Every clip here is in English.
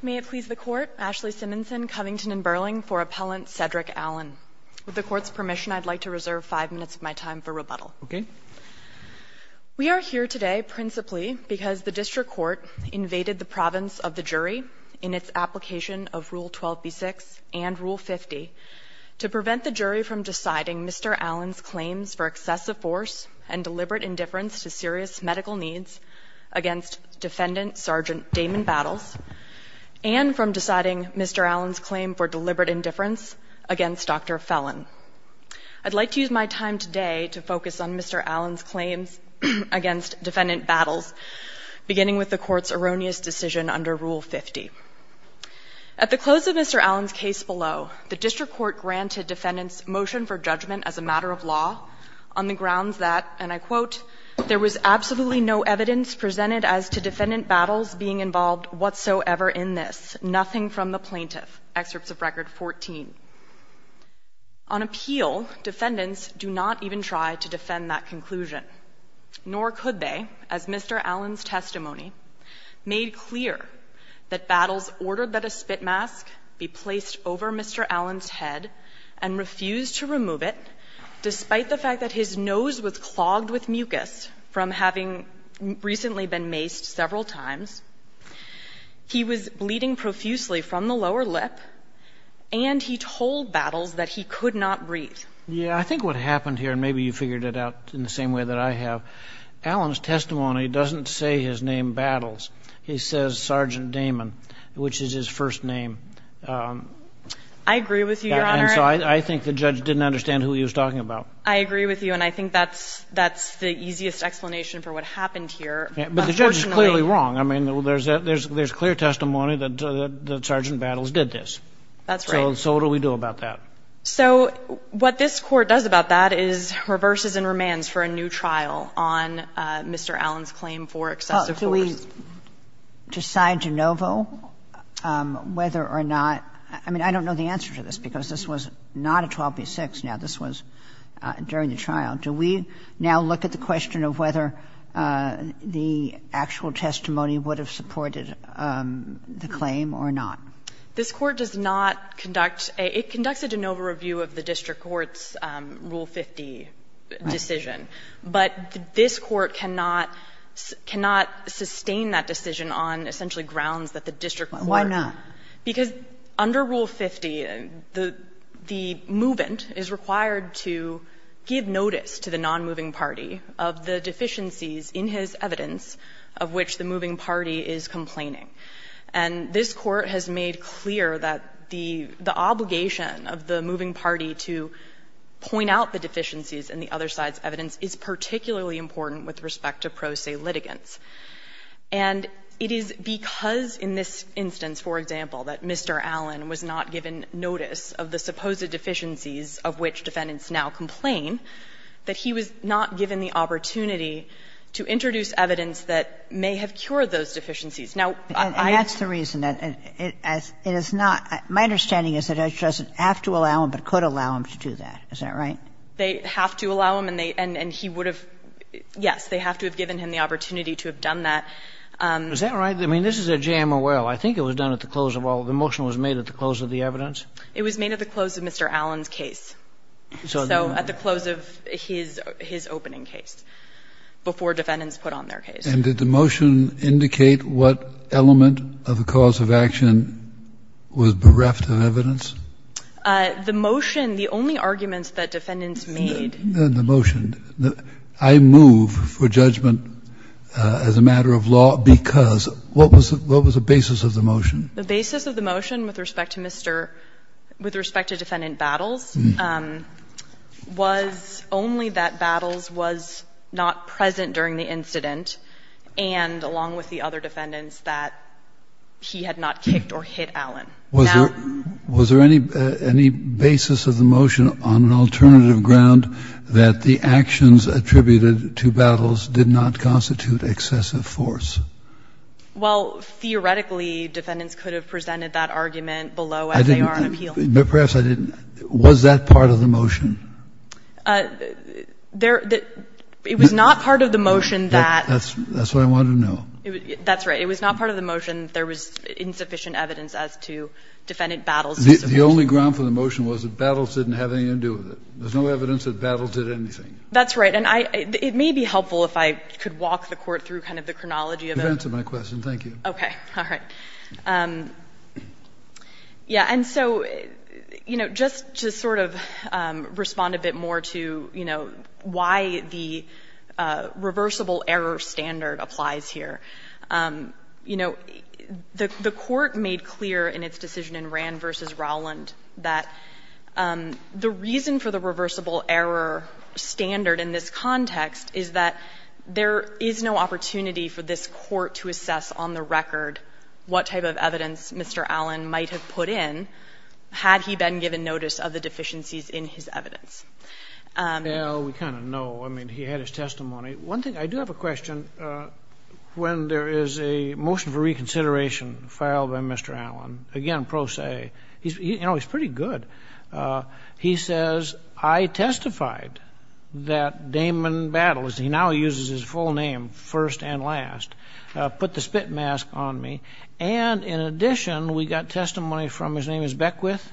May it please the Court, Ashley Simonson, Covington & Burling for Appellant Cedric Allen. With the Court's permission, I'd like to reserve five minutes of my time for rebuttal. Okay. We are here today principally because the District Court invaded the province of the jury in its application of Rule 12b-6 and Rule 50 to prevent the jury from deciding Mr. Allen's claims for excessive force and deliberate indifference to serious medical needs against Defendant Sergeant Damon Battles and from deciding Mr. Allen's claim for deliberate indifference against Dr. Fellon. I'd like to use my time today to focus on Mr. Allen's claims against Defendant Battles, beginning with the Court's erroneous decision under Rule 50. At the close of Mr. Allen's case below, the District Court granted defendants motion for judgment as a matter of law on the grounds that, and I quote, there was absolutely no evidence presented as to Defendant Battles being involved whatsoever in this, nothing from the plaintiff, excerpts of Record 14. On appeal, defendants do not even try to defend that conclusion, nor could they, as Mr. Allen's testimony made clear, that Battles ordered that a spit mask be placed over Mr. Allen's head and refused to remove it despite the fact that his nose was clogged with mucus from having recently been maced several times. He was bleeding profusely from the lower lip, and he told Battles that he could not breathe. Yeah. I think what happened here, and maybe you figured it out in the same way that I have, Allen's testimony doesn't say his name Battles. He says Sergeant Damon, which is his first name. I agree with you, Your Honor. And so I think the judge didn't understand who he was talking about. I agree with you, and I think that's the easiest explanation for what happened here. Unfortunately But the judge is clearly wrong. I mean, there's clear testimony that Sergeant Battles did this. That's right. So what do we do about that? So what this Court does about that is reverses and remands for a new trial on Mr. Allen's claim for excessive force. Well, do we decide de novo whether or not – I mean, I don't know the answer to this, because this was not a 12 v. 6. Now, this was during the trial. Do we now look at the question of whether the actual testimony would have supported the claim or not? This Court does not conduct – it conducts a de novo review of the district court's Rule 50 decision. But this Court cannot – cannot sustain that decision on essentially grounds that the district court – Why not? Because under Rule 50, the movant is required to give notice to the nonmoving party of the deficiencies in his evidence of which the moving party is complaining. And this Court has made clear that the obligation of the moving party to point out the deficiencies is particularly important with respect to pro se litigants. And it is because in this instance, for example, that Mr. Allen was not given notice of the supposed deficiencies of which defendants now complain, that he was not given the opportunity to introduce evidence that may have cured those deficiencies. Now, I don't think that's the reason. And that's the reason. It is not – my understanding is that Judge doesn't have to allow him but could allow him to do that. Is that right? They have to allow him and he would have – yes, they have to have given him the opportunity to have done that. Is that right? I mean, this is at JMOL. I think it was done at the close of all – the motion was made at the close of the evidence. It was made at the close of Mr. Allen's case. So at the close of his opening case, before defendants put on their case. The motion, the only arguments that defendants made. The motion. I move for judgment as a matter of law because what was the basis of the motion? The basis of the motion with respect to Mr. – with respect to Defendant Battles was only that Battles was not present during the incident and, along with the other defendants, that he had not kicked or hit Allen. Now. Was there any basis of the motion on an alternative ground that the actions attributed to Battles did not constitute excessive force? Well, theoretically, defendants could have presented that argument below as they are on appeal. But perhaps I didn't. Was that part of the motion? It was not part of the motion that. That's what I wanted to know. That's right. It was not part of the motion. There was insufficient evidence as to Defendant Battles. The only ground for the motion was that Battles didn't have anything to do with it. There's no evidence that Battles did anything. That's right. And it may be helpful if I could walk the Court through kind of the chronology of it. You've answered my question. Thank you. Okay. All right. Yeah. And so, you know, just to sort of respond a bit more to, you know, why the reversible error standard applies here, you know, the Court made clear in its decision in Rand v. Rowland that the reason for the reversible error standard in this context is that there is no opportunity for this Court to assess on the record what type of evidence Mr. Allen might have put in had he been given notice of the deficiencies in his evidence. Well, we kind of know. I mean, he had his testimony. One thing, I do have a question. When there is a motion for reconsideration filed by Mr. Allen, again, pro se, you know, he's pretty good. He says, I testified that Damon Battles, he now uses his full name first and last, put the spit mask on me. And in addition, we got testimony from his name is Beckwith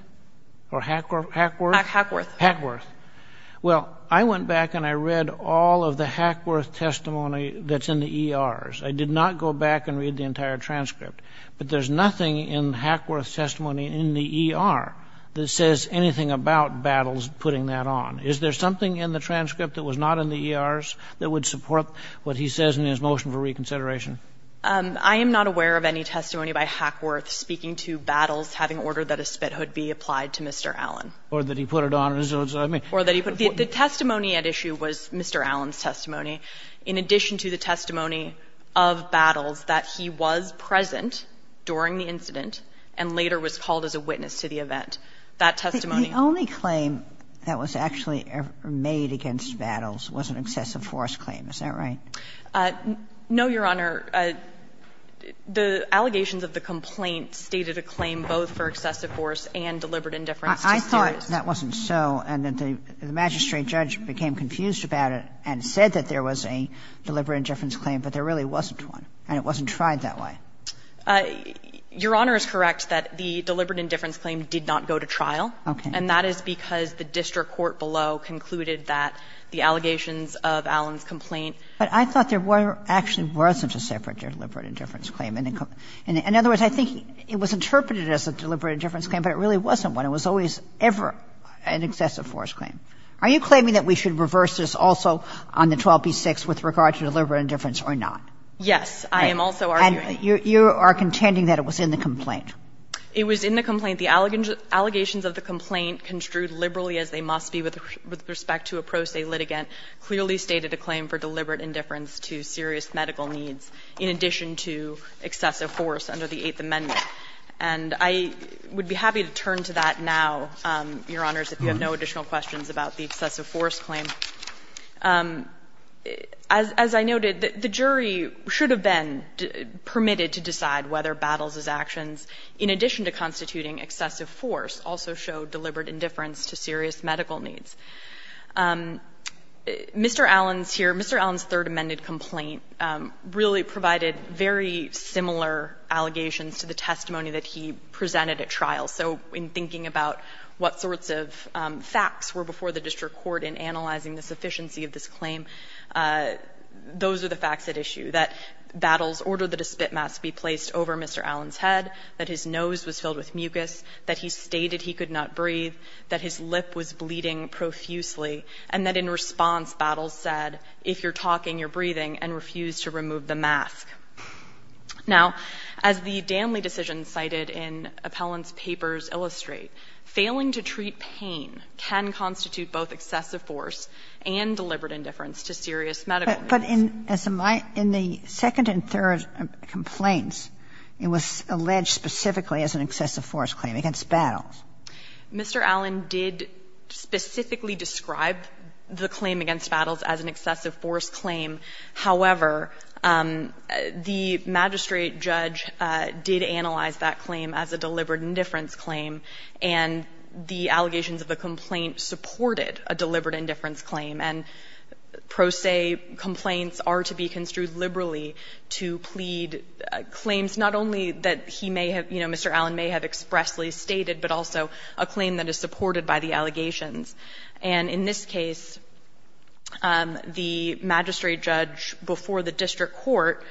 or Hackworth? Hackworth. Hackworth. Well, I went back and I read all of the Hackworth testimony that's in the ERs. I did not go back and read the entire transcript. But there's nothing in Hackworth's testimony in the ER that says anything about Battles putting that on. Is there something in the transcript that was not in the ERs that would support what he says in his motion for reconsideration? I am not aware of any testimony by Hackworth speaking to Battles having ordered that a spit hood be applied to Mr. Allen. Or that he put it on. The testimony at issue was Mr. Allen's testimony. In addition to the testimony of Battles that he was present during the incident and later was called as a witness to the event, that testimony. The only claim that was actually made against Battles was an excessive force claim. Is that right? No, Your Honor. The allegations of the complaint stated a claim both for excessive force and deliberate indifference. I thought that wasn't so. And that the magistrate judge became confused about it and said that there was a deliberate indifference claim. But there really wasn't one. And it wasn't tried that way. Your Honor is correct that the deliberate indifference claim did not go to trial. Okay. And that is because the district court below concluded that the allegations of Allen's complaint. But I thought there actually wasn't a separate deliberate indifference claim. In other words, I think it was interpreted as a deliberate indifference claim. But it really wasn't one. It was always ever an excessive force claim. Are you claiming that we should reverse this also on the 12b-6 with regard to deliberate indifference or not? Yes. I am also arguing. And you are contending that it was in the complaint. It was in the complaint. The allegations of the complaint construed liberally as they must be with respect to a pro se litigant clearly stated a claim for deliberate indifference to serious medical needs in addition to excessive force under the Eighth Amendment. And I would be happy to turn to that now, Your Honors, if you have no additional questions about the excessive force claim. As I noted, the jury should have been permitted to decide whether Battles' actions in addition to constituting excessive force also showed deliberate indifference to serious medical needs. Mr. Allen's here, Mr. Allen's Third Amendment complaint really provided very similar allegations to the testimony that he presented at trial. So in thinking about what sorts of facts were before the district court in analyzing the sufficiency of this claim, those are the facts at issue, that Battles ordered that a spit mask be placed over Mr. Allen's head, that his nose was filled with mucus, that he stated he could not breathe, that his lip was bleeding profusely, and that in response, Battles said, if you're talking, you're breathing, and refused to remove the mask. Now, as the Danley decision cited in Appellant's papers illustrate, failing to treat pain can constitute both excessive force and deliberate indifference to serious medical needs. But in the second and third complaints, it was alleged specifically as an excessive force claim against Battles. Mr. Allen did specifically describe the claim against Battles as an excessive force claim. However, the magistrate judge did analyze that claim as a deliberate indifference claim, and the allegations of the complaint supported a deliberate indifference claim. And pro se complaints are to be construed liberally to plead claims not only that he may have, you know, Mr. Allen may have expressly stated, but also a claim that is supported by the allegations. And in this case, the magistrate judge before the district court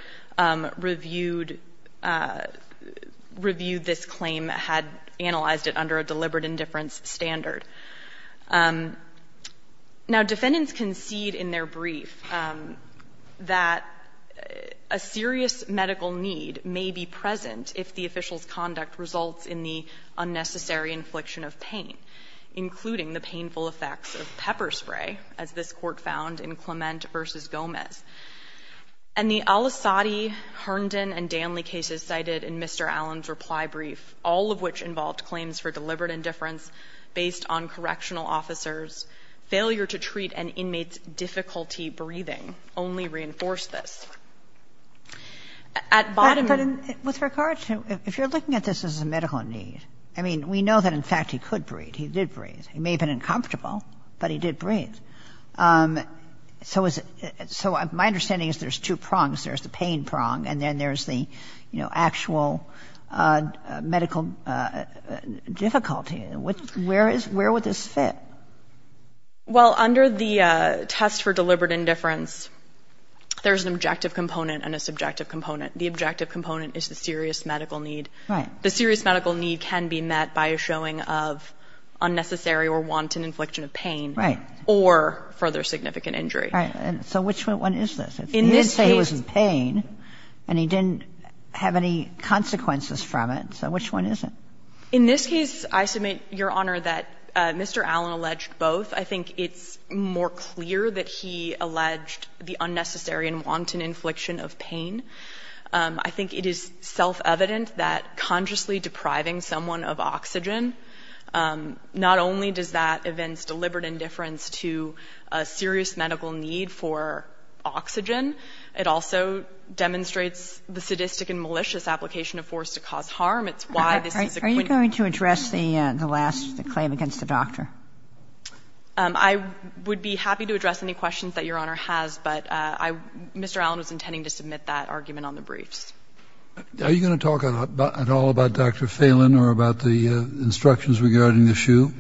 reviewed this claim had analyzed it under a deliberate indifference standard. Now, defendants concede in their brief that a serious medical need may be present if the official's conduct results in the unnecessary infliction of pain, including the painful effects of pepper spray, as this Court found in Clement v. Gomez. And the Al-Asadi, Herndon, and Danley cases cited in Mr. Allen's reply brief, all of which involved claims for deliberate indifference based on correctional officers, failure to treat an inmate's difficulty breathing, only reinforced this. At bottom of the page, this is a medical need. I mean, we know that, in fact, he could breathe. He did breathe. He may have been uncomfortable, but he did breathe. So is it — so my understanding is there's two prongs. There's the pain prong, and then there's the, you know, actual medical difficulty. Where is — where would this fit? Well, under the test for deliberate indifference, there's an objective component and a subjective component. The objective component is the serious medical need. Right. The serious medical need can be met by a showing of unnecessary or wanton infliction of pain. Right. Or further significant injury. Right. So which one is this? In this case — If he did say he was in pain and he didn't have any consequences from it, so which one is it? In this case, I submit, Your Honor, that Mr. Allen alleged both. I think it's more clear that he alleged the unnecessary and wanton infliction of pain. I think it is self-evident that consciously depriving someone of oxygen, not only does that evince deliberate indifference to a serious medical need for oxygen, it also demonstrates the sadistic and malicious application of force to cause harm. It's why this is a — Are you going to address the last — the claim against the doctor? I would be happy to address any questions that Your Honor has, but I — Mr. Allen was intending to submit that argument on the briefs. Are you going to talk at all about Dr. Fallon or about the instructions regarding the shoe?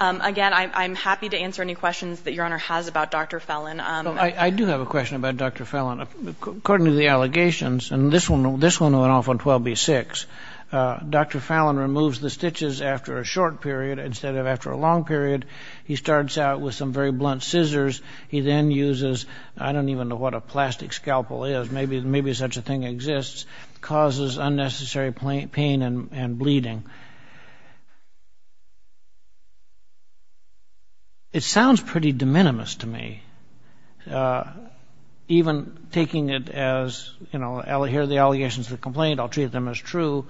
Again, I'm happy to answer any questions that Your Honor has about Dr. Fallon. I do have a question about Dr. Fallon. According to the allegations — and this one went off on 12b-6 — Dr. Fallon removes the stitches after a short period instead of after a long period. He starts out with some very blunt scissors. He then uses — I don't even know what a plastic scalpel is. Maybe such a thing exists. It causes unnecessary pain and bleeding. It sounds pretty de minimis to me, even taking it as, you know, here are the allegations of the complaint. I'll treat them as true.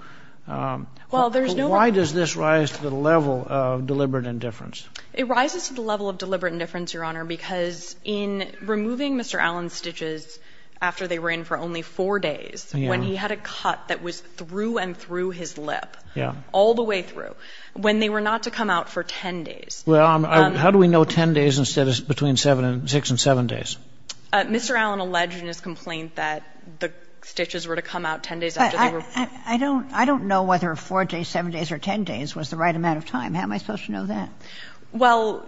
Well, there's no — Why does this rise to the level of deliberate indifference? It rises to the level of deliberate indifference, Your Honor, because in removing Mr. Allen's stitches after they were in for only four days, when he had a cut that was through and through his lip, all the way through, when they were not to come out for 10 days — Well, how do we know 10 days instead of between 6 and 7 days? Mr. Allen alleged in his complaint that the stitches were to come out 10 days after they were — I don't know whether 4 days, 7 days, or 10 days was the right amount of time. How am I supposed to know that? Well,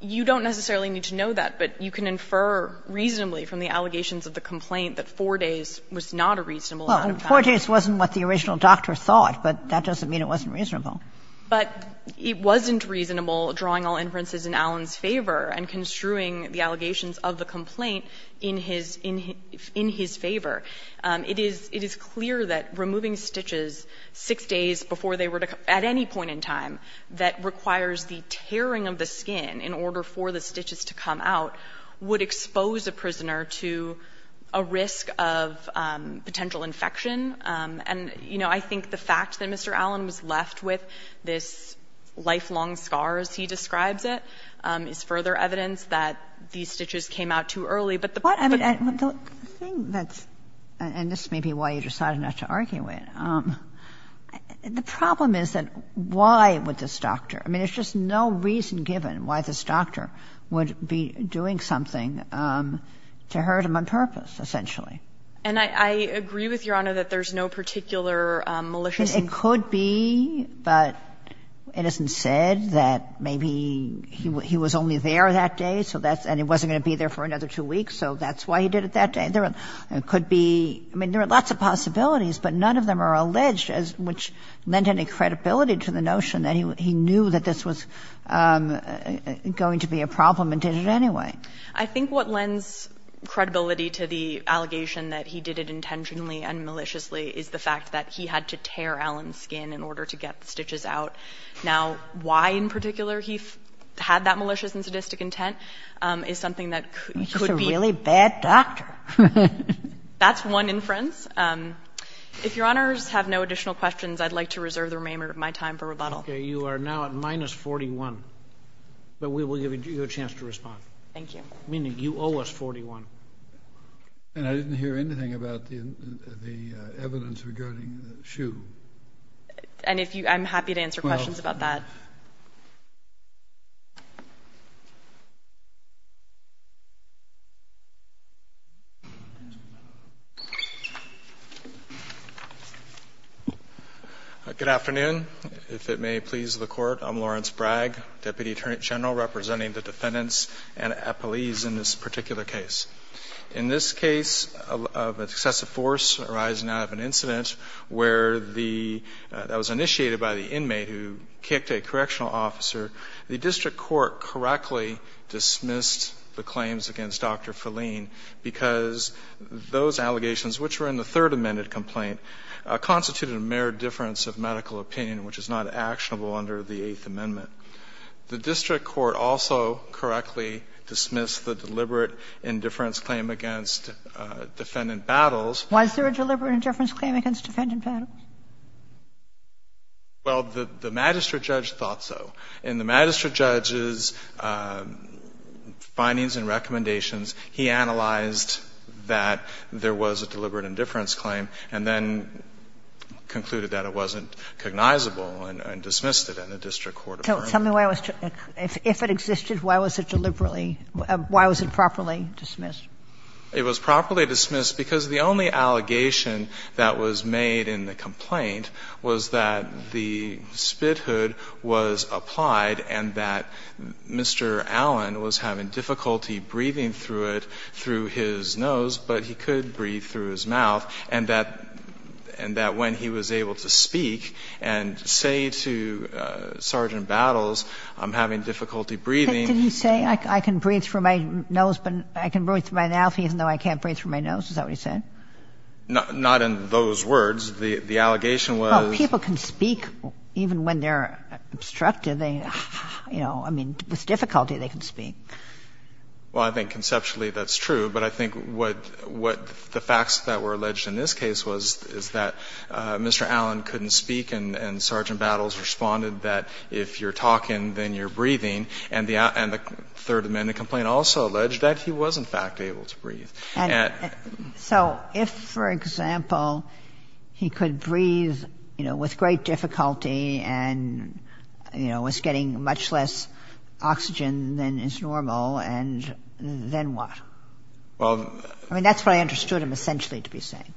you don't necessarily need to know that, but you can infer reasonably from the allegations of the complaint that 4 days was not a reasonable amount of time. Well, 4 days wasn't what the original doctor thought, but that doesn't mean it wasn't reasonable. But it wasn't reasonable drawing all inferences in Allen's favor and construing the allegations of the complaint in his favor. It is clear that removing stitches 6 days before they were to — at any point in time that requires the tearing of the skin in order for the stitches to come out would expose a prisoner to a risk of potential infection. And, you know, I think the fact that Mr. Allen was left with this lifelong scar, as he describes it, is further evidence that these stitches came out too early. But the — But the thing that's — and this may be why you decided not to argue it. The problem is that why would this doctor — I mean, there's just no reason given why this doctor would be doing something to hurt him on purpose, essentially. And I agree with Your Honor that there's no particular malicious — It could be. But it isn't said that maybe he was only there that day, so that's — and he wasn't going to be there for another 2 weeks, so that's why he did it that day. There could be — I mean, there are lots of possibilities, but none of them are alleged, which lent any credibility to the notion that he knew that this was going to be a problem and did it anyway. I think what lends credibility to the allegation that he did it intentionally and maliciously is the fact that he had to tear Allen's skin in order to get the stitches out. Now, why in particular he had that malicious and sadistic intent is something that could be — That's one inference. If Your Honors have no additional questions, I'd like to reserve the remainder of my time for rebuttal. Okay. You are now at minus 41, but we will give you a chance to respond. Thank you. Meaning you owe us 41. And I didn't hear anything about the evidence regarding the shoe. And if you — I'm happy to answer questions about that. Good afternoon. If it may please the Court, I'm Lawrence Bragg, Deputy Attorney General, representing the defendants and police in this particular case. In this case of excessive force arising out of an incident where the — that was initiated by the inmate who kicked a correctional officer, the district court correctly dismissed the claims against Dr. Fellin because those allegations, which were in the Third Amendment complaint, constituted a mere difference of medical opinion, which is not actionable under the Eighth Amendment. The district court also correctly dismissed the deliberate indifference claim against defendant Battles. Was there a deliberate indifference claim against defendant Battles? Well, the magistrate judge thought so. In the magistrate judge's findings and recommendations, he analyzed that there was a deliberate indifference claim and then concluded that it wasn't cognizable and dismissed it in the district court. So tell me why it was — if it existed, why was it deliberately — why was it properly dismissed? It was properly dismissed because the only allegation that was made in the complaint was that the spit hood was applied and that Mr. Allen was having difficulty breathing through it, through his nose, but he could breathe through his mouth, and that — and that when he was able to speak and say to Sergeant Battles, I'm having difficulty breathing. Did he say, I can breathe through my nose, but I can breathe through my mouth even though I can't breathe through my nose? Is that what he said? Not in those words. The allegation was — Well, people can speak even when they're obstructed. They, you know, I mean, with difficulty they can speak. Well, I think conceptually that's true. But I think what the facts that were alleged in this case was, is that Mr. Allen couldn't speak and Sergeant Battles responded that if you're talking, then you're breathing, and the Third Amendment complaint also alleged that he was, in fact, able to breathe. And so if, for example, he could breathe, you know, with great difficulty and, you know, was getting much less oxygen than is normal, and then what? Well — I mean, that's what I understood him essentially to be saying.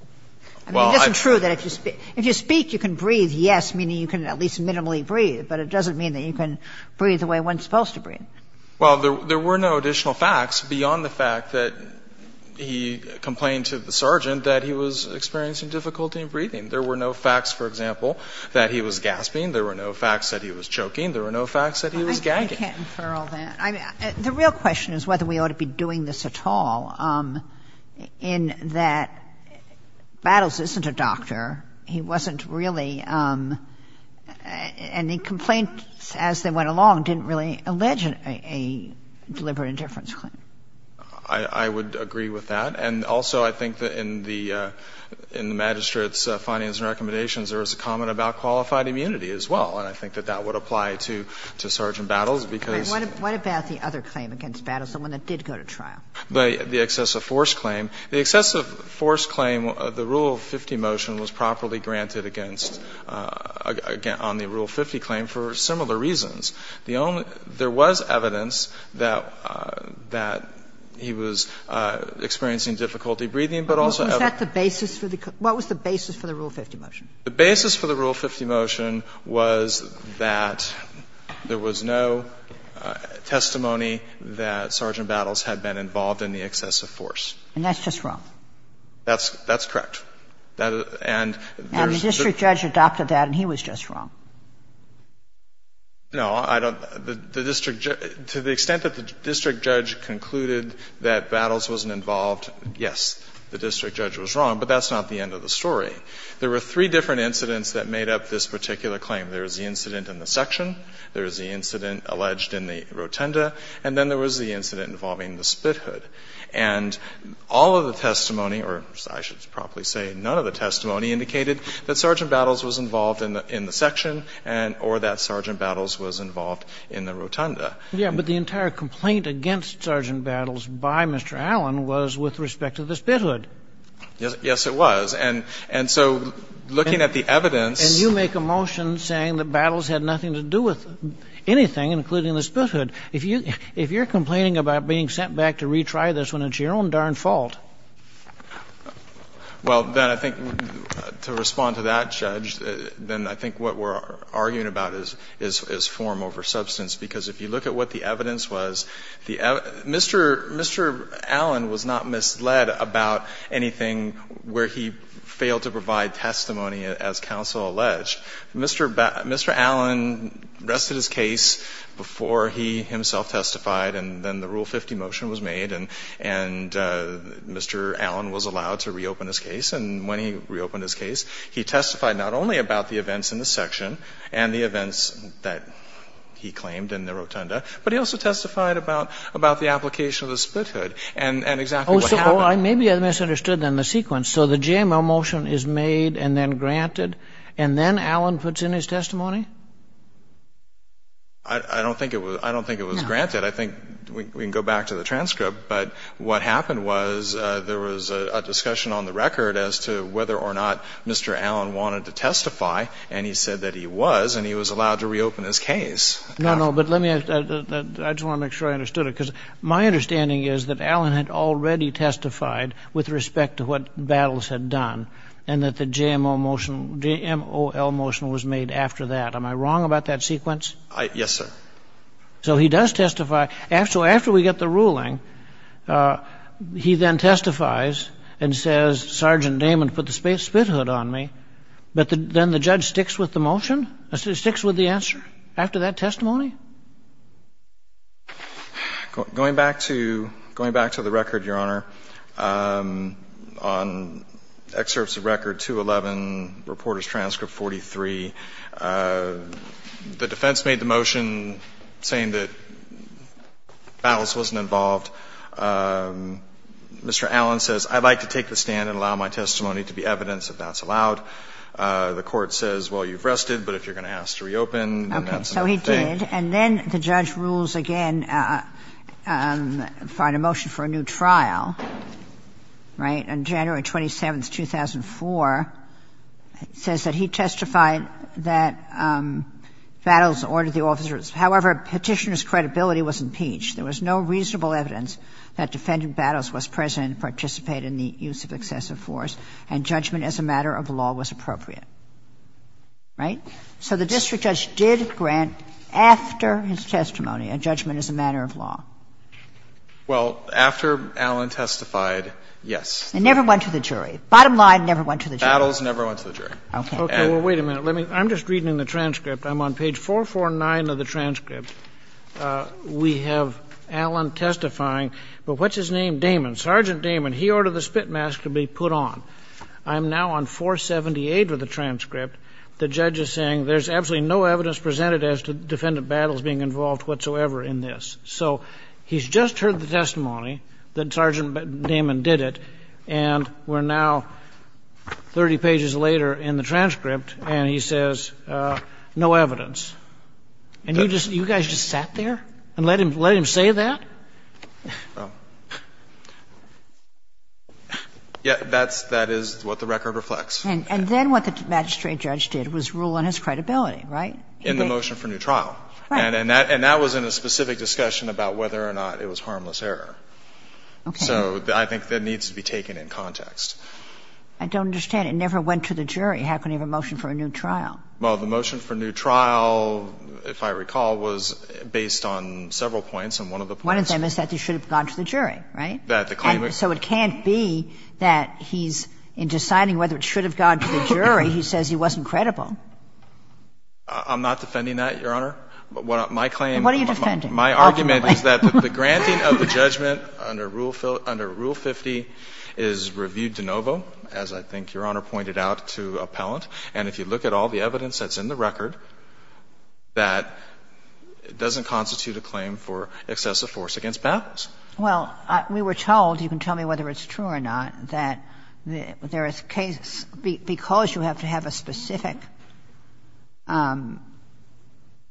Well, I — I mean, it isn't true that if you speak — if you speak, you can breathe, yes, meaning you can at least minimally breathe, but it doesn't mean that you can breathe the way one's supposed to breathe. Well, there were no additional facts beyond the fact that he complained to the sergeant that he was experiencing difficulty in breathing. There were no facts, for example, that he was gasping. There were no facts that he was choking. There were no facts that he was gagging. I can't infer all that. I mean, the real question is whether we ought to be doing this at all, in that Battles isn't a doctor. He wasn't really — and the complaints as they went along didn't really allege a deliberate indifference claim. I would agree with that. And also, I think that in the magistrate's findings and recommendations, there was a comment about qualified immunity as well, and I think that that would apply to Sergeant Battles because — What about the other claim against Battles, the one that did go to trial? The excessive force claim. The excessive force claim, the Rule 50 motion was properly granted against — on the Rule 50 claim for similar reasons. The only — there was evidence that — that he was experiencing difficulty breathing, but also — Was that the basis for the — what was the basis for the Rule 50 motion? The basis for the Rule 50 motion was that there was no testimony that Sergeant Battles had been involved in the excessive force. And that's just wrong? That's — that's correct. And there's — And the district judge adopted that, and he was just wrong. No, I don't — the district judge — to the extent that the district judge concluded that Battles wasn't involved, yes, the district judge was wrong, but that's not the end of the story. There were three different incidents that made up this particular claim. There was the incident in the section, there was the incident alleged in the rotunda, and then there was the incident involving the spit hood. And all of the testimony, or I should probably say none of the testimony, indicated that Sergeant Battles was involved in the section or that Sergeant Battles was involved in the rotunda. Yeah, but the entire complaint against Sergeant Battles by Mr. Allen was with respect to the spit hood. Yes. Yes, it was. And so looking at the evidence — And you make a motion saying that Battles had nothing to do with anything, including the spit hood. If you're complaining about being sent back to retry this when it's your own darn fault — Well, then I think to respond to that, Judge, then I think what we're arguing about is form over substance, because if you look at what the evidence was, Mr. Allen was not misled about anything where he failed to provide testimony, as counsel alleged. Mr. Allen rested his case before he himself testified, and then the Rule 50 motion was made, and Mr. Allen was allowed to reopen his case. And when he reopened his case, he testified not only about the events in the section and the events that he claimed in the rotunda, but he also testified about the application of the spit hood and exactly what happened. Oh, so I may be misunderstood in the sequence. So the JML motion is made and then granted, and then Allen puts in his testimony? I don't think it was granted. I think we can go back to the transcript, but what happened was there was a discussion on the record as to whether or not Mr. Allen wanted to testify, and he said that he was, and he was allowed to reopen his case. No, no. But let me — I just want to make sure I understood it, because my understanding is that Allen had already testified with respect to what Battles had done and that the JMO motion — JMOL motion was made after that. Am I wrong about that sequence? Yes, sir. So he does testify. So after we get the ruling, he then testifies and says, Sergeant Damon put the spit hood on me. But then the judge sticks with the motion? Sticks with the answer after that testimony? Going back to — going back to the record, Your Honor, on excerpts of Record 211, Reporter's Transcript 43, the defense made the motion saying that Battles wasn't involved. Mr. Allen says, I'd like to take the stand and allow my testimony to be evidence if that's allowed. The Court says, well, you've rested, but if you're going to ask to reopen, then that's another thing. Okay. So he did. And then the judge rules again, fine a motion for a new trial, right, on January 27, 2004, says that he testified that Battles ordered the officers. However, Petitioner's credibility was impeached. There was no reasonable evidence that Defendant Battles was present and participated in the use of excessive force, and judgment as a matter of law was appropriate. Right? So the district judge did grant after his testimony a judgment as a matter of law. Well, after Allen testified, yes. And never went to the jury. Bottom line, never went to the jury. Battles never went to the jury. Okay. Well, wait a minute. I'm just reading the transcript. I'm on page 449 of the transcript. We have Allen testifying, but what's his name? Damon. Sergeant Damon. He ordered the spit mask to be put on. I'm now on 478 of the transcript. The judge is saying there's absolutely no evidence presented as to Defendant Battles being involved whatsoever in this. So he's just heard the testimony that Sergeant Damon did it, and we're now 30 pages later in the transcript, and he says no evidence. And you guys just sat there and let him say that? Yeah, that is what the record reflects. And then what the magistrate judge did was rule on his credibility, right? In the motion for new trial. Right. And that was in a specific discussion about whether or not it was harmless error. Okay. So I think that needs to be taken in context. I don't understand. It never went to the jury. How can he have a motion for a new trial? Well, the motion for new trial, if I recall, was based on several points, and one of the points was that he should have gone to the jury, right? So it can't be that he's, in deciding whether it should have gone to the jury, he says he wasn't credible. I'm not defending that, Your Honor. My claim — What are you defending? My argument is that the granting of the judgment under Rule 50 is reviewed de novo, as I think Your Honor pointed out to appellant. And if you look at all the evidence that's in the record, that doesn't constitute a claim for excessive force against battles. Well, we were told, you can tell me whether it's true or not, that there is cases where, because you have to have a specific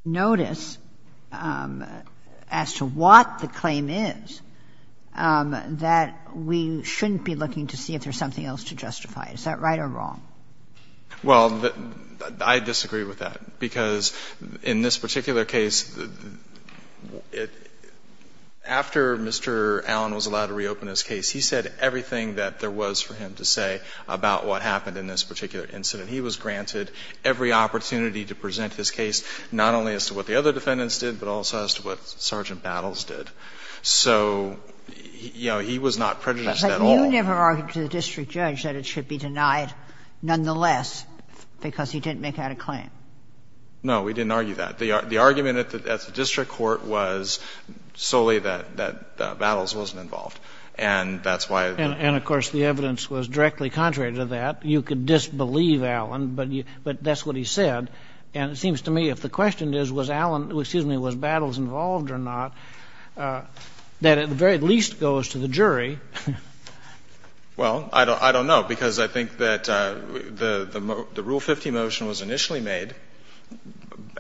notice as to what the claim is, that we shouldn't be looking to see if there's something else to justify it. Is that right or wrong? Well, I disagree with that, because in this particular case, after Mr. Allen was allowed to reopen his case, he said everything that there was for him to say about what happened in this particular incident. He was granted every opportunity to present his case, not only as to what the other defendants did, but also as to what Sergeant Battles did. So, you know, he was not prejudiced at all. But you never argued to the district judge that it should be denied nonetheless because he didn't make out a claim. No, we didn't argue that. The argument at the district court was solely that Battles wasn't involved. And that's why the ---- And, of course, the evidence was directly contrary to that. You could disbelieve Allen, but that's what he said. And it seems to me if the question is was Battles involved or not, that at the very least goes to the jury. Well, I don't know, because I think that the Rule 50 motion was initially made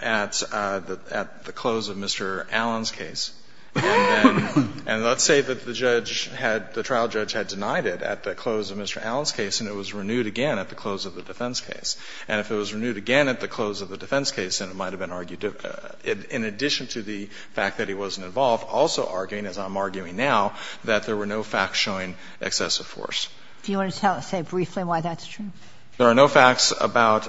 at the close of Mr. Allen's case. And let's say that the judge had, the trial judge had denied it at the close of Mr. Allen's case, and it was renewed again at the close of the defense case. And if it was renewed again at the close of the defense case, then it might have been argued, in addition to the fact that he wasn't involved, also arguing, as I'm arguing now, that there were no facts showing excessive force. Do you want to say briefly why that's true? There are no facts about,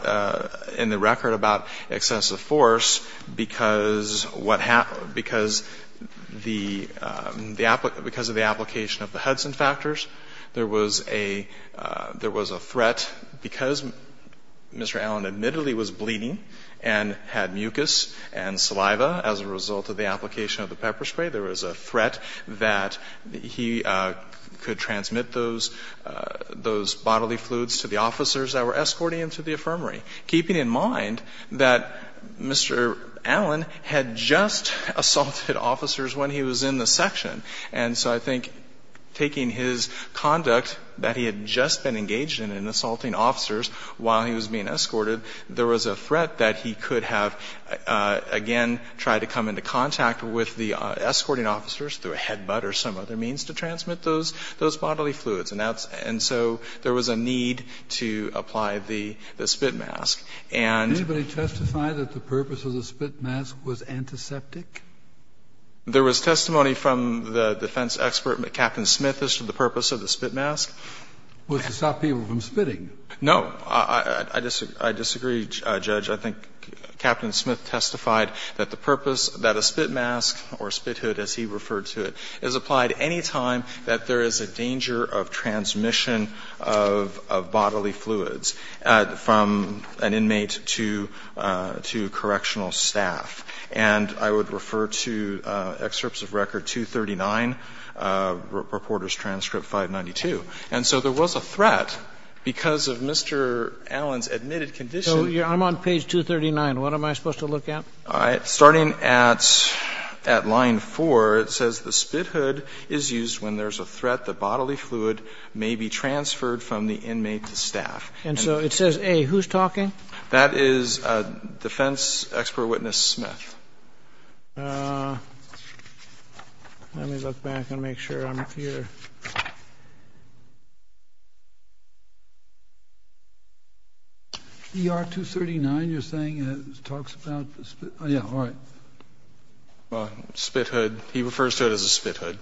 in the record, about excessive force because what happened ---- because the ---- because of the application of the Hudson factors, there was a threat because Mr. Allen admittedly was bleeding and had mucus and saliva as a result of the application of the pepper spray, there was a threat that he could transmit those bodily fluids to the officers that were escorting him to the affirmary, keeping in mind that Mr. Allen had just assaulted officers when he was in the section. And so I think taking his conduct that he had just been engaged in, in assaulting officers while he was being escorted, there was a threat that he could have, again, tried to come into contact with the escorting officers through a head butt or some other means to transmit those bodily fluids. And so there was a need to apply the spit mask. And the purpose of the spit mask was antiseptic? There was testimony from the defense expert, Captain Smith, as to the purpose of the spit mask. Was it to stop people from spitting? No. I disagree, Judge. I think Captain Smith testified that the purpose that a spit mask, or a spit hood as he referred to it, is applied any time that there is a danger of transmission of bodily fluids from an inmate to correctional staff. And I would refer to excerpts of Record 239, Reporter's Transcript 592. And so there was a threat because of Mr. Allen's admitted condition. So I'm on page 239. What am I supposed to look at? All right. Starting at line 4, it says the spit hood is used when there is a threat that bodily fluid may be transferred from the inmate to staff. And so it says, A, who's talking? That is defense expert witness Smith. Let me look back and make sure I'm here. ER 239, you're saying, talks about the spit hood? Yeah, all right. Well, spit hood, he refers to it as a spit hood.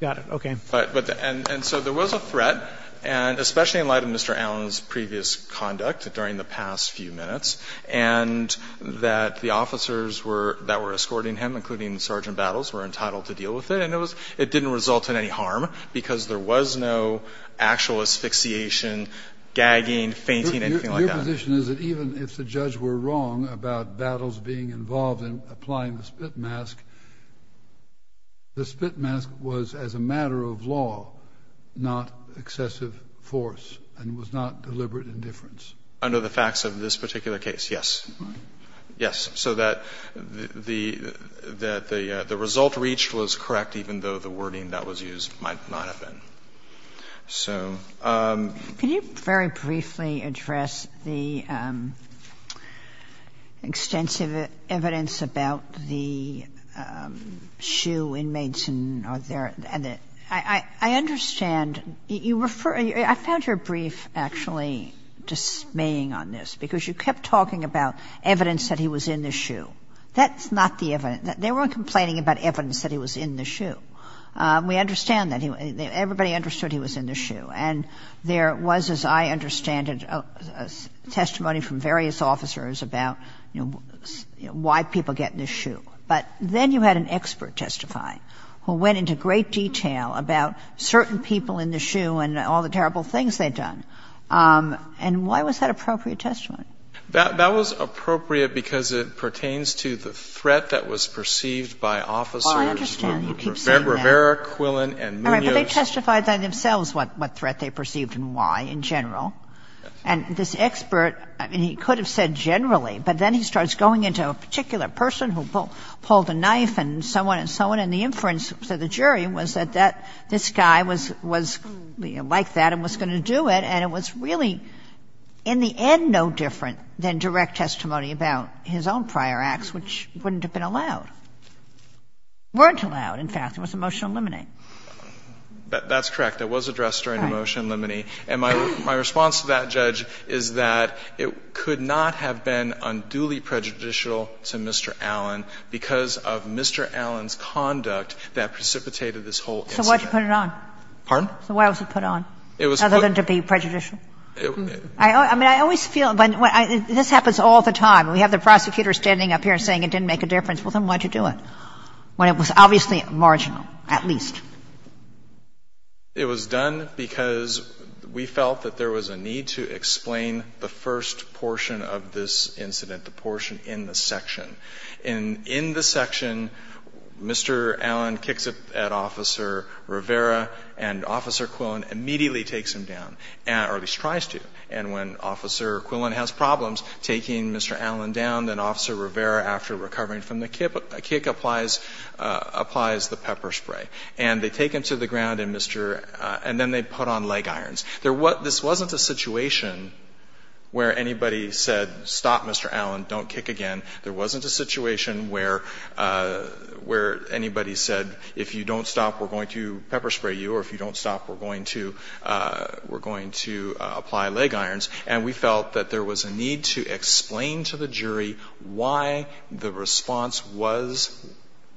Got it. Okay. And so there was a threat, especially in light of Mr. Allen's previous conduct during the past few minutes, and that the officers that were escorting him, including Sergeant Battles, were entitled to deal with it. And it didn't result in any harm because there was no actual asphyxiation, gagging, fainting, anything like that. Your position is that even if the judge were wrong about Battles being involved in applying the spit mask, the spit mask was, as a matter of law, not excessive force and was not deliberate indifference? Under the facts of this particular case, yes. All right. Yes. So that the result reached was correct, even though the wording that was used might not have been. So. Can you very briefly address the extensive evidence about the shoe inmates and their – I understand you refer – I found your brief actually dismaying on this because you kept talking about evidence that he was in the shoe. That's not the evidence. They weren't complaining about evidence that he was in the shoe. We understand that. Everybody understood he was in the shoe. And there was, as I understand it, a testimony from various officers about, you know, why people get in the shoe. But then you had an expert testify who went into great detail about certain people in the shoe and all the terrible things they'd done. And why was that appropriate testimony? That was appropriate because it pertains to the threat that was perceived by officers. Well, I understand. He keeps saying that. Rivera, Quillen, and Munoz. All right. But they testified by themselves what threat they perceived and why in general. And this expert, I mean, he could have said generally, but then he starts going into a particular person who pulled a knife and so on and so on. And the inference to the jury was that this guy was like that and was going to do it and it was really in the end no different than direct testimony about his own prior acts, which wouldn't have been allowed. Weren't allowed, in fact. It was a motion to eliminate. That's correct. It was addressed during the motion to eliminate. And my response to that, Judge, is that it could not have been unduly prejudicial to Mr. Allen because of Mr. Allen's conduct that precipitated this whole incident. So why did you put it on? Pardon? So why was it put on? It was put on. Other than to be prejudicial? I mean, I always feel when this happens all the time, we have the prosecutor standing up here and saying it didn't make a difference. Well, then why did you do it? When it was obviously marginal, at least. It was done because we felt that there was a need to explain the first portion of this incident, the portion in the section. In the section, Mr. Allen kicks it at Officer Rivera, and Officer Quillen immediately takes him down, or at least tries to. And when Officer Quillen has problems taking Mr. Allen down, then Officer Rivera, after recovering from the kick, applies the pepper spray. And they take him to the ground, and then they put on leg irons. This wasn't a situation where anybody said, stop, Mr. Allen, don't kick again. There wasn't a situation where anybody said, if you don't stop, we're going to pepper spray you, or if you don't stop, we're going to apply leg irons. And we felt that there was a need to explain to the jury why the response was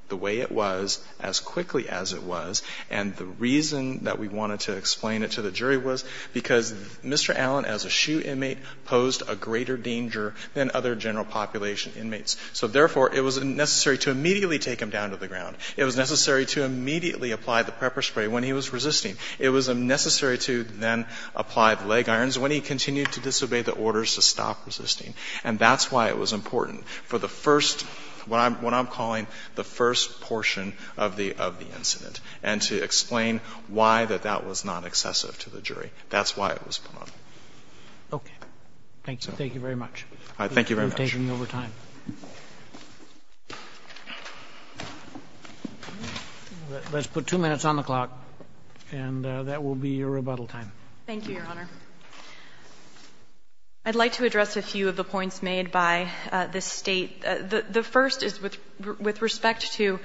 the way it was, as quickly as it was. And the reason that we wanted to explain it to the jury was because Mr. Allen, as a SHU inmate, posed a greater danger than other general population inmates. So therefore, it was necessary to immediately take him down to the ground. It was necessary to immediately apply the pepper spray when he was resisting. It was necessary to then apply the leg irons when he continued to disobey the orders to stop resisting. And that's why it was important for the first, what I'm calling the first portion of the incident, and to explain why that that was not excessive to the jury. That's why it was important. Roberts. Okay. Thank you. Thank you very much. Thank you very much. We're taking over time. Let's put two minutes on the clock, and that will be your rebuttal time. Thank you, Your Honor. I'd like to address a few of the points made by this State. The first is with respect to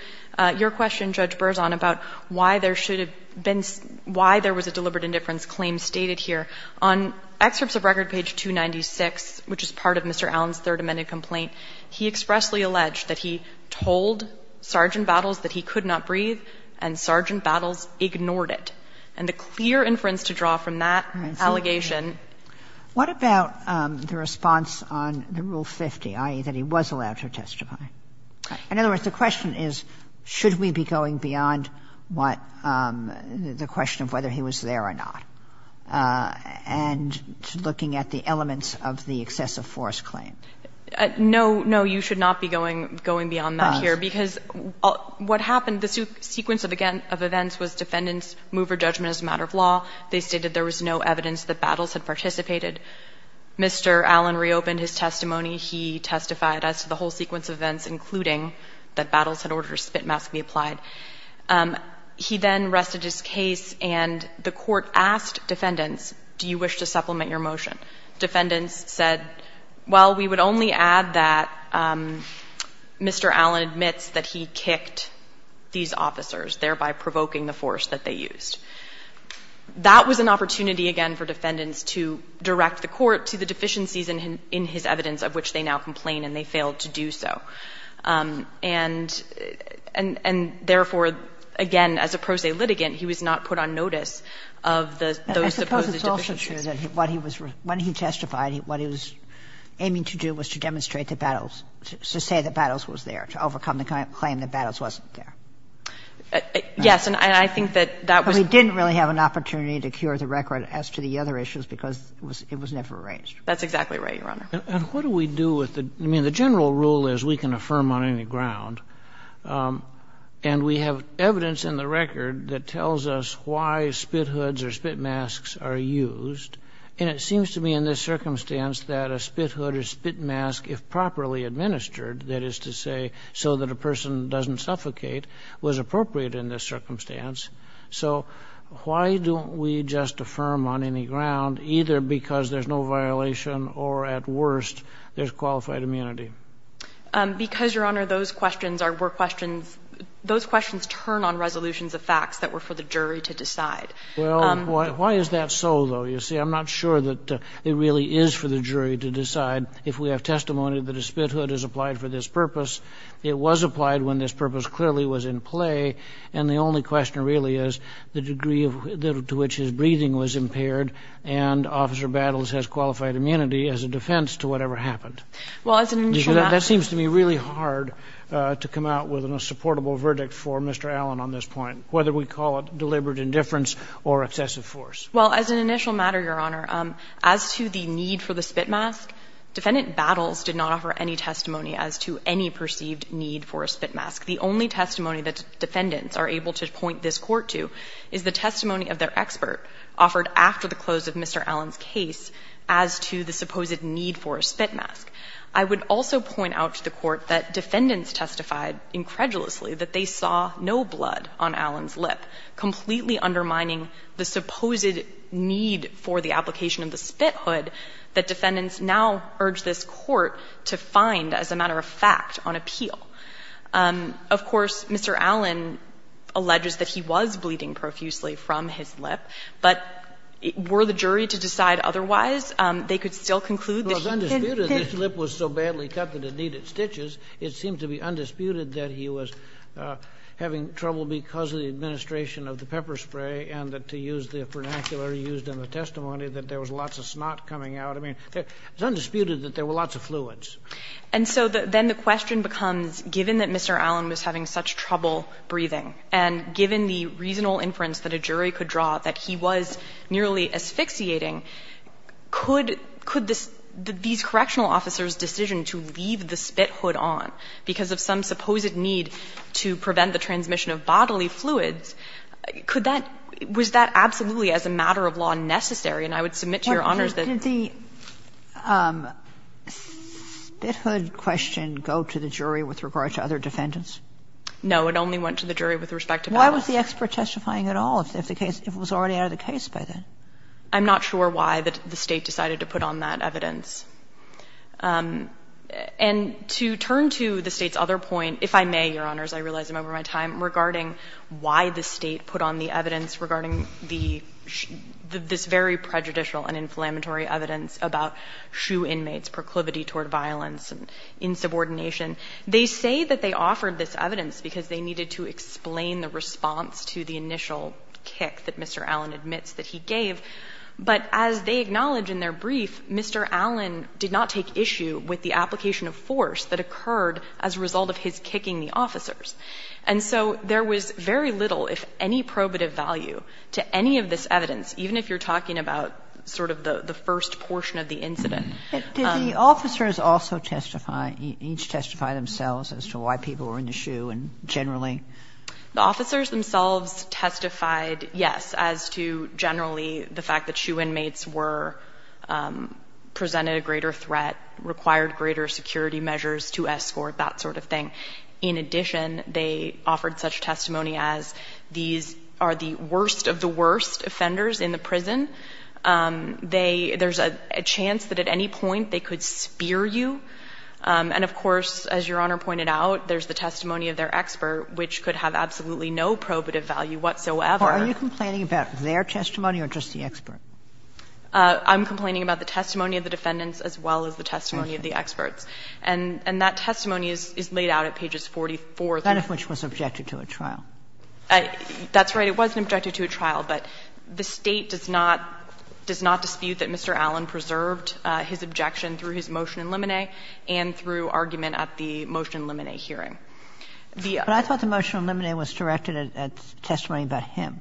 your question, Judge Berzon, about why there should have been why there was a deliberate indifference claim stated here. On excerpts of Record Page 296, which is part of Mr. Allen's third amended complaint, he expressly alleged that he told Sergeant Battles that he could not breathe, and Sergeant Battles ignored it. And the clear inference to draw from that allegation. What about the response on the Rule 50, i.e., that he was allowed to testify? In other words, the question is, should we be going beyond what the question of whether he was there or not, and looking at the elements of the excessive force claim? No. No, you should not be going beyond that here. Because what happened, the sequence of events was defendants moved for judgment as a matter of law. They stated there was no evidence that Battles had participated. Mr. Allen reopened his testimony. He testified as to the whole sequence of events, including that Battles had ordered her spit mask be applied. He then rested his case, and the Court asked defendants, do you wish to supplement your motion? Defendants said, well, we would only add that Mr. Allen admits that he kicked these officers, thereby provoking the force that they used. That was an opportunity, again, for defendants to direct the Court to the deficiencies in his evidence of which they now complain, and they failed to do so. And therefore, again, as a pro se litigant, he was not put on notice of those supposed deficiencies. I suppose it's also true that what he was — when he testified, what he was aiming to do was to demonstrate that Battles — to say that Battles was there, to overcome the claim that Battles wasn't there. Yes, and I think that that was — But he didn't really have an opportunity to cure the record as to the other issues because it was never arranged. That's exactly right, Your Honor. And what do we do with the — I mean, the general rule is we can affirm on any ground, and we have evidence in the record that tells us why spit hoods or spit masks are used. And it seems to me in this circumstance that a spit hood or spit mask, if properly administered, that is to say so that a person doesn't suffocate, was appropriate in this circumstance. So why don't we just affirm on any ground either because there's no violation or at worst there's qualified immunity? Because, Your Honor, those questions are — were questions — those questions turn on resolutions of facts that were for the jury to decide. Well, why is that so, though? You see, I'm not sure that it really is for the jury to decide. If we have testimony that a spit hood is applied for this purpose, it was applied when this purpose clearly was in play. And the only question really is the degree to which his breathing was impaired and Officer Battles has qualified immunity as a defense to whatever happened. Well, as an initial matter — That seems to me really hard to come out with a supportable verdict for Mr. Allen on this point, whether we call it deliberate indifference or excessive force. Well, as an initial matter, Your Honor, as to the need for the spit mask, Defendant Battles did not offer any testimony as to any perceived need for a spit mask. The only testimony that defendants are able to point this Court to is the testimony of their expert offered after the close of Mr. Allen's case as to the supposed need for a spit mask. I would also point out to the Court that defendants testified incredulously that they saw no blood on Allen's lip, completely undermining the supposed need for the application of the spit hood that defendants now urge this Court to find as a matter of fact on appeal. Of course, Mr. Allen alleges that he was bleeding profusely from his lip, but were the jury to decide otherwise, they could still conclude that he didn't think— It was undisputed that his lip was so badly cut that it needed stitches. It seemed to be undisputed that he was having trouble because of the administration of the pepper spray and to use the vernacular used in the testimony that there was lots of snot coming out. I mean, it's undisputed that there were lots of fluids. And so then the question becomes, given that Mr. Allen was having such trouble breathing and given the reasonable inference that a jury could draw that he was nearly asphyxiating, could this – these correctional officers' decision to leave the spit hood on because of some supposed need to prevent the transmission of bodily fluids, could that – was that absolutely as a matter of law necessary? And I would submit to Your Honors that— Sotomayor, did the spit hood question go to the jury with regard to other defendants? No, it only went to the jury with respect to Palace. Why was the expert testifying at all if the case – if it was already out of the case by then? I'm not sure why the State decided to put on that evidence. And to turn to the State's other point, if I may, Your Honors, I realize I'm over my time, regarding why the State put on the evidence regarding the – this very prejudicial and inflammatory evidence about SHU inmates' proclivity toward violence and insubordination. They say that they offered this evidence because they needed to explain the response to the initial kick that Mr. Allen admits that he gave. But as they acknowledge in their brief, Mr. Allen did not take issue with the application of force that occurred as a result of his kicking the officers. And so there was very little, if any, probative value to any of this evidence, even if you're talking about sort of the first portion of the incident. But did the officers also testify – each testify themselves as to why people were in the SHU and generally? The officers themselves testified, yes, as to generally the fact that SHU inmates were – presented a greater threat, required greater security measures to escort that sort of thing. In addition, they offered such testimony as these are the worst of the worst offenders in the prison. They – there's a chance that at any point they could spear you. And, of course, as Your Honor pointed out, there's the testimony of their expert, which could have absolutely no probative value whatsoever. Are you complaining about their testimony or just the expert? I'm complaining about the testimony of the defendants as well as the testimony of the experts. And that testimony is laid out at pages 44. That of which was subjected to a trial. That's right. It was subjected to a trial, but the State does not – does not dispute that Mr. Allen preserved his objection through his motion in limine and through argument at the motion in limine hearing. But I thought the motion in limine was directed at testimony about him.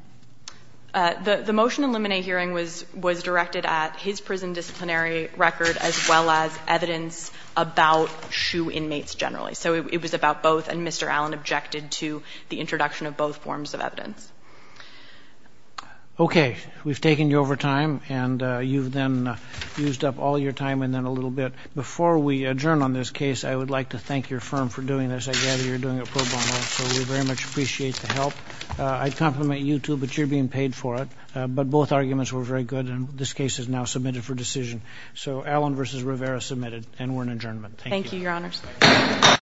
The motion in limine hearing was directed at his prison disciplinary record as well as evidence about SHU inmates generally. So it was about both. And Mr. Allen objected to the introduction of both forms of evidence. Okay. We've taken you over time. And you've then used up all your time and then a little bit. Before we adjourn on this case, I would like to thank your firm for doing this. I gather you're doing it pro bono. So we very much appreciate the help. I'd compliment you, too, but you're being paid for it. But both arguments were very good. And this case is now submitted for decision. So Allen v. Rivera, submitted. And we're in adjournment. Thank you. Thank you, Your Honors.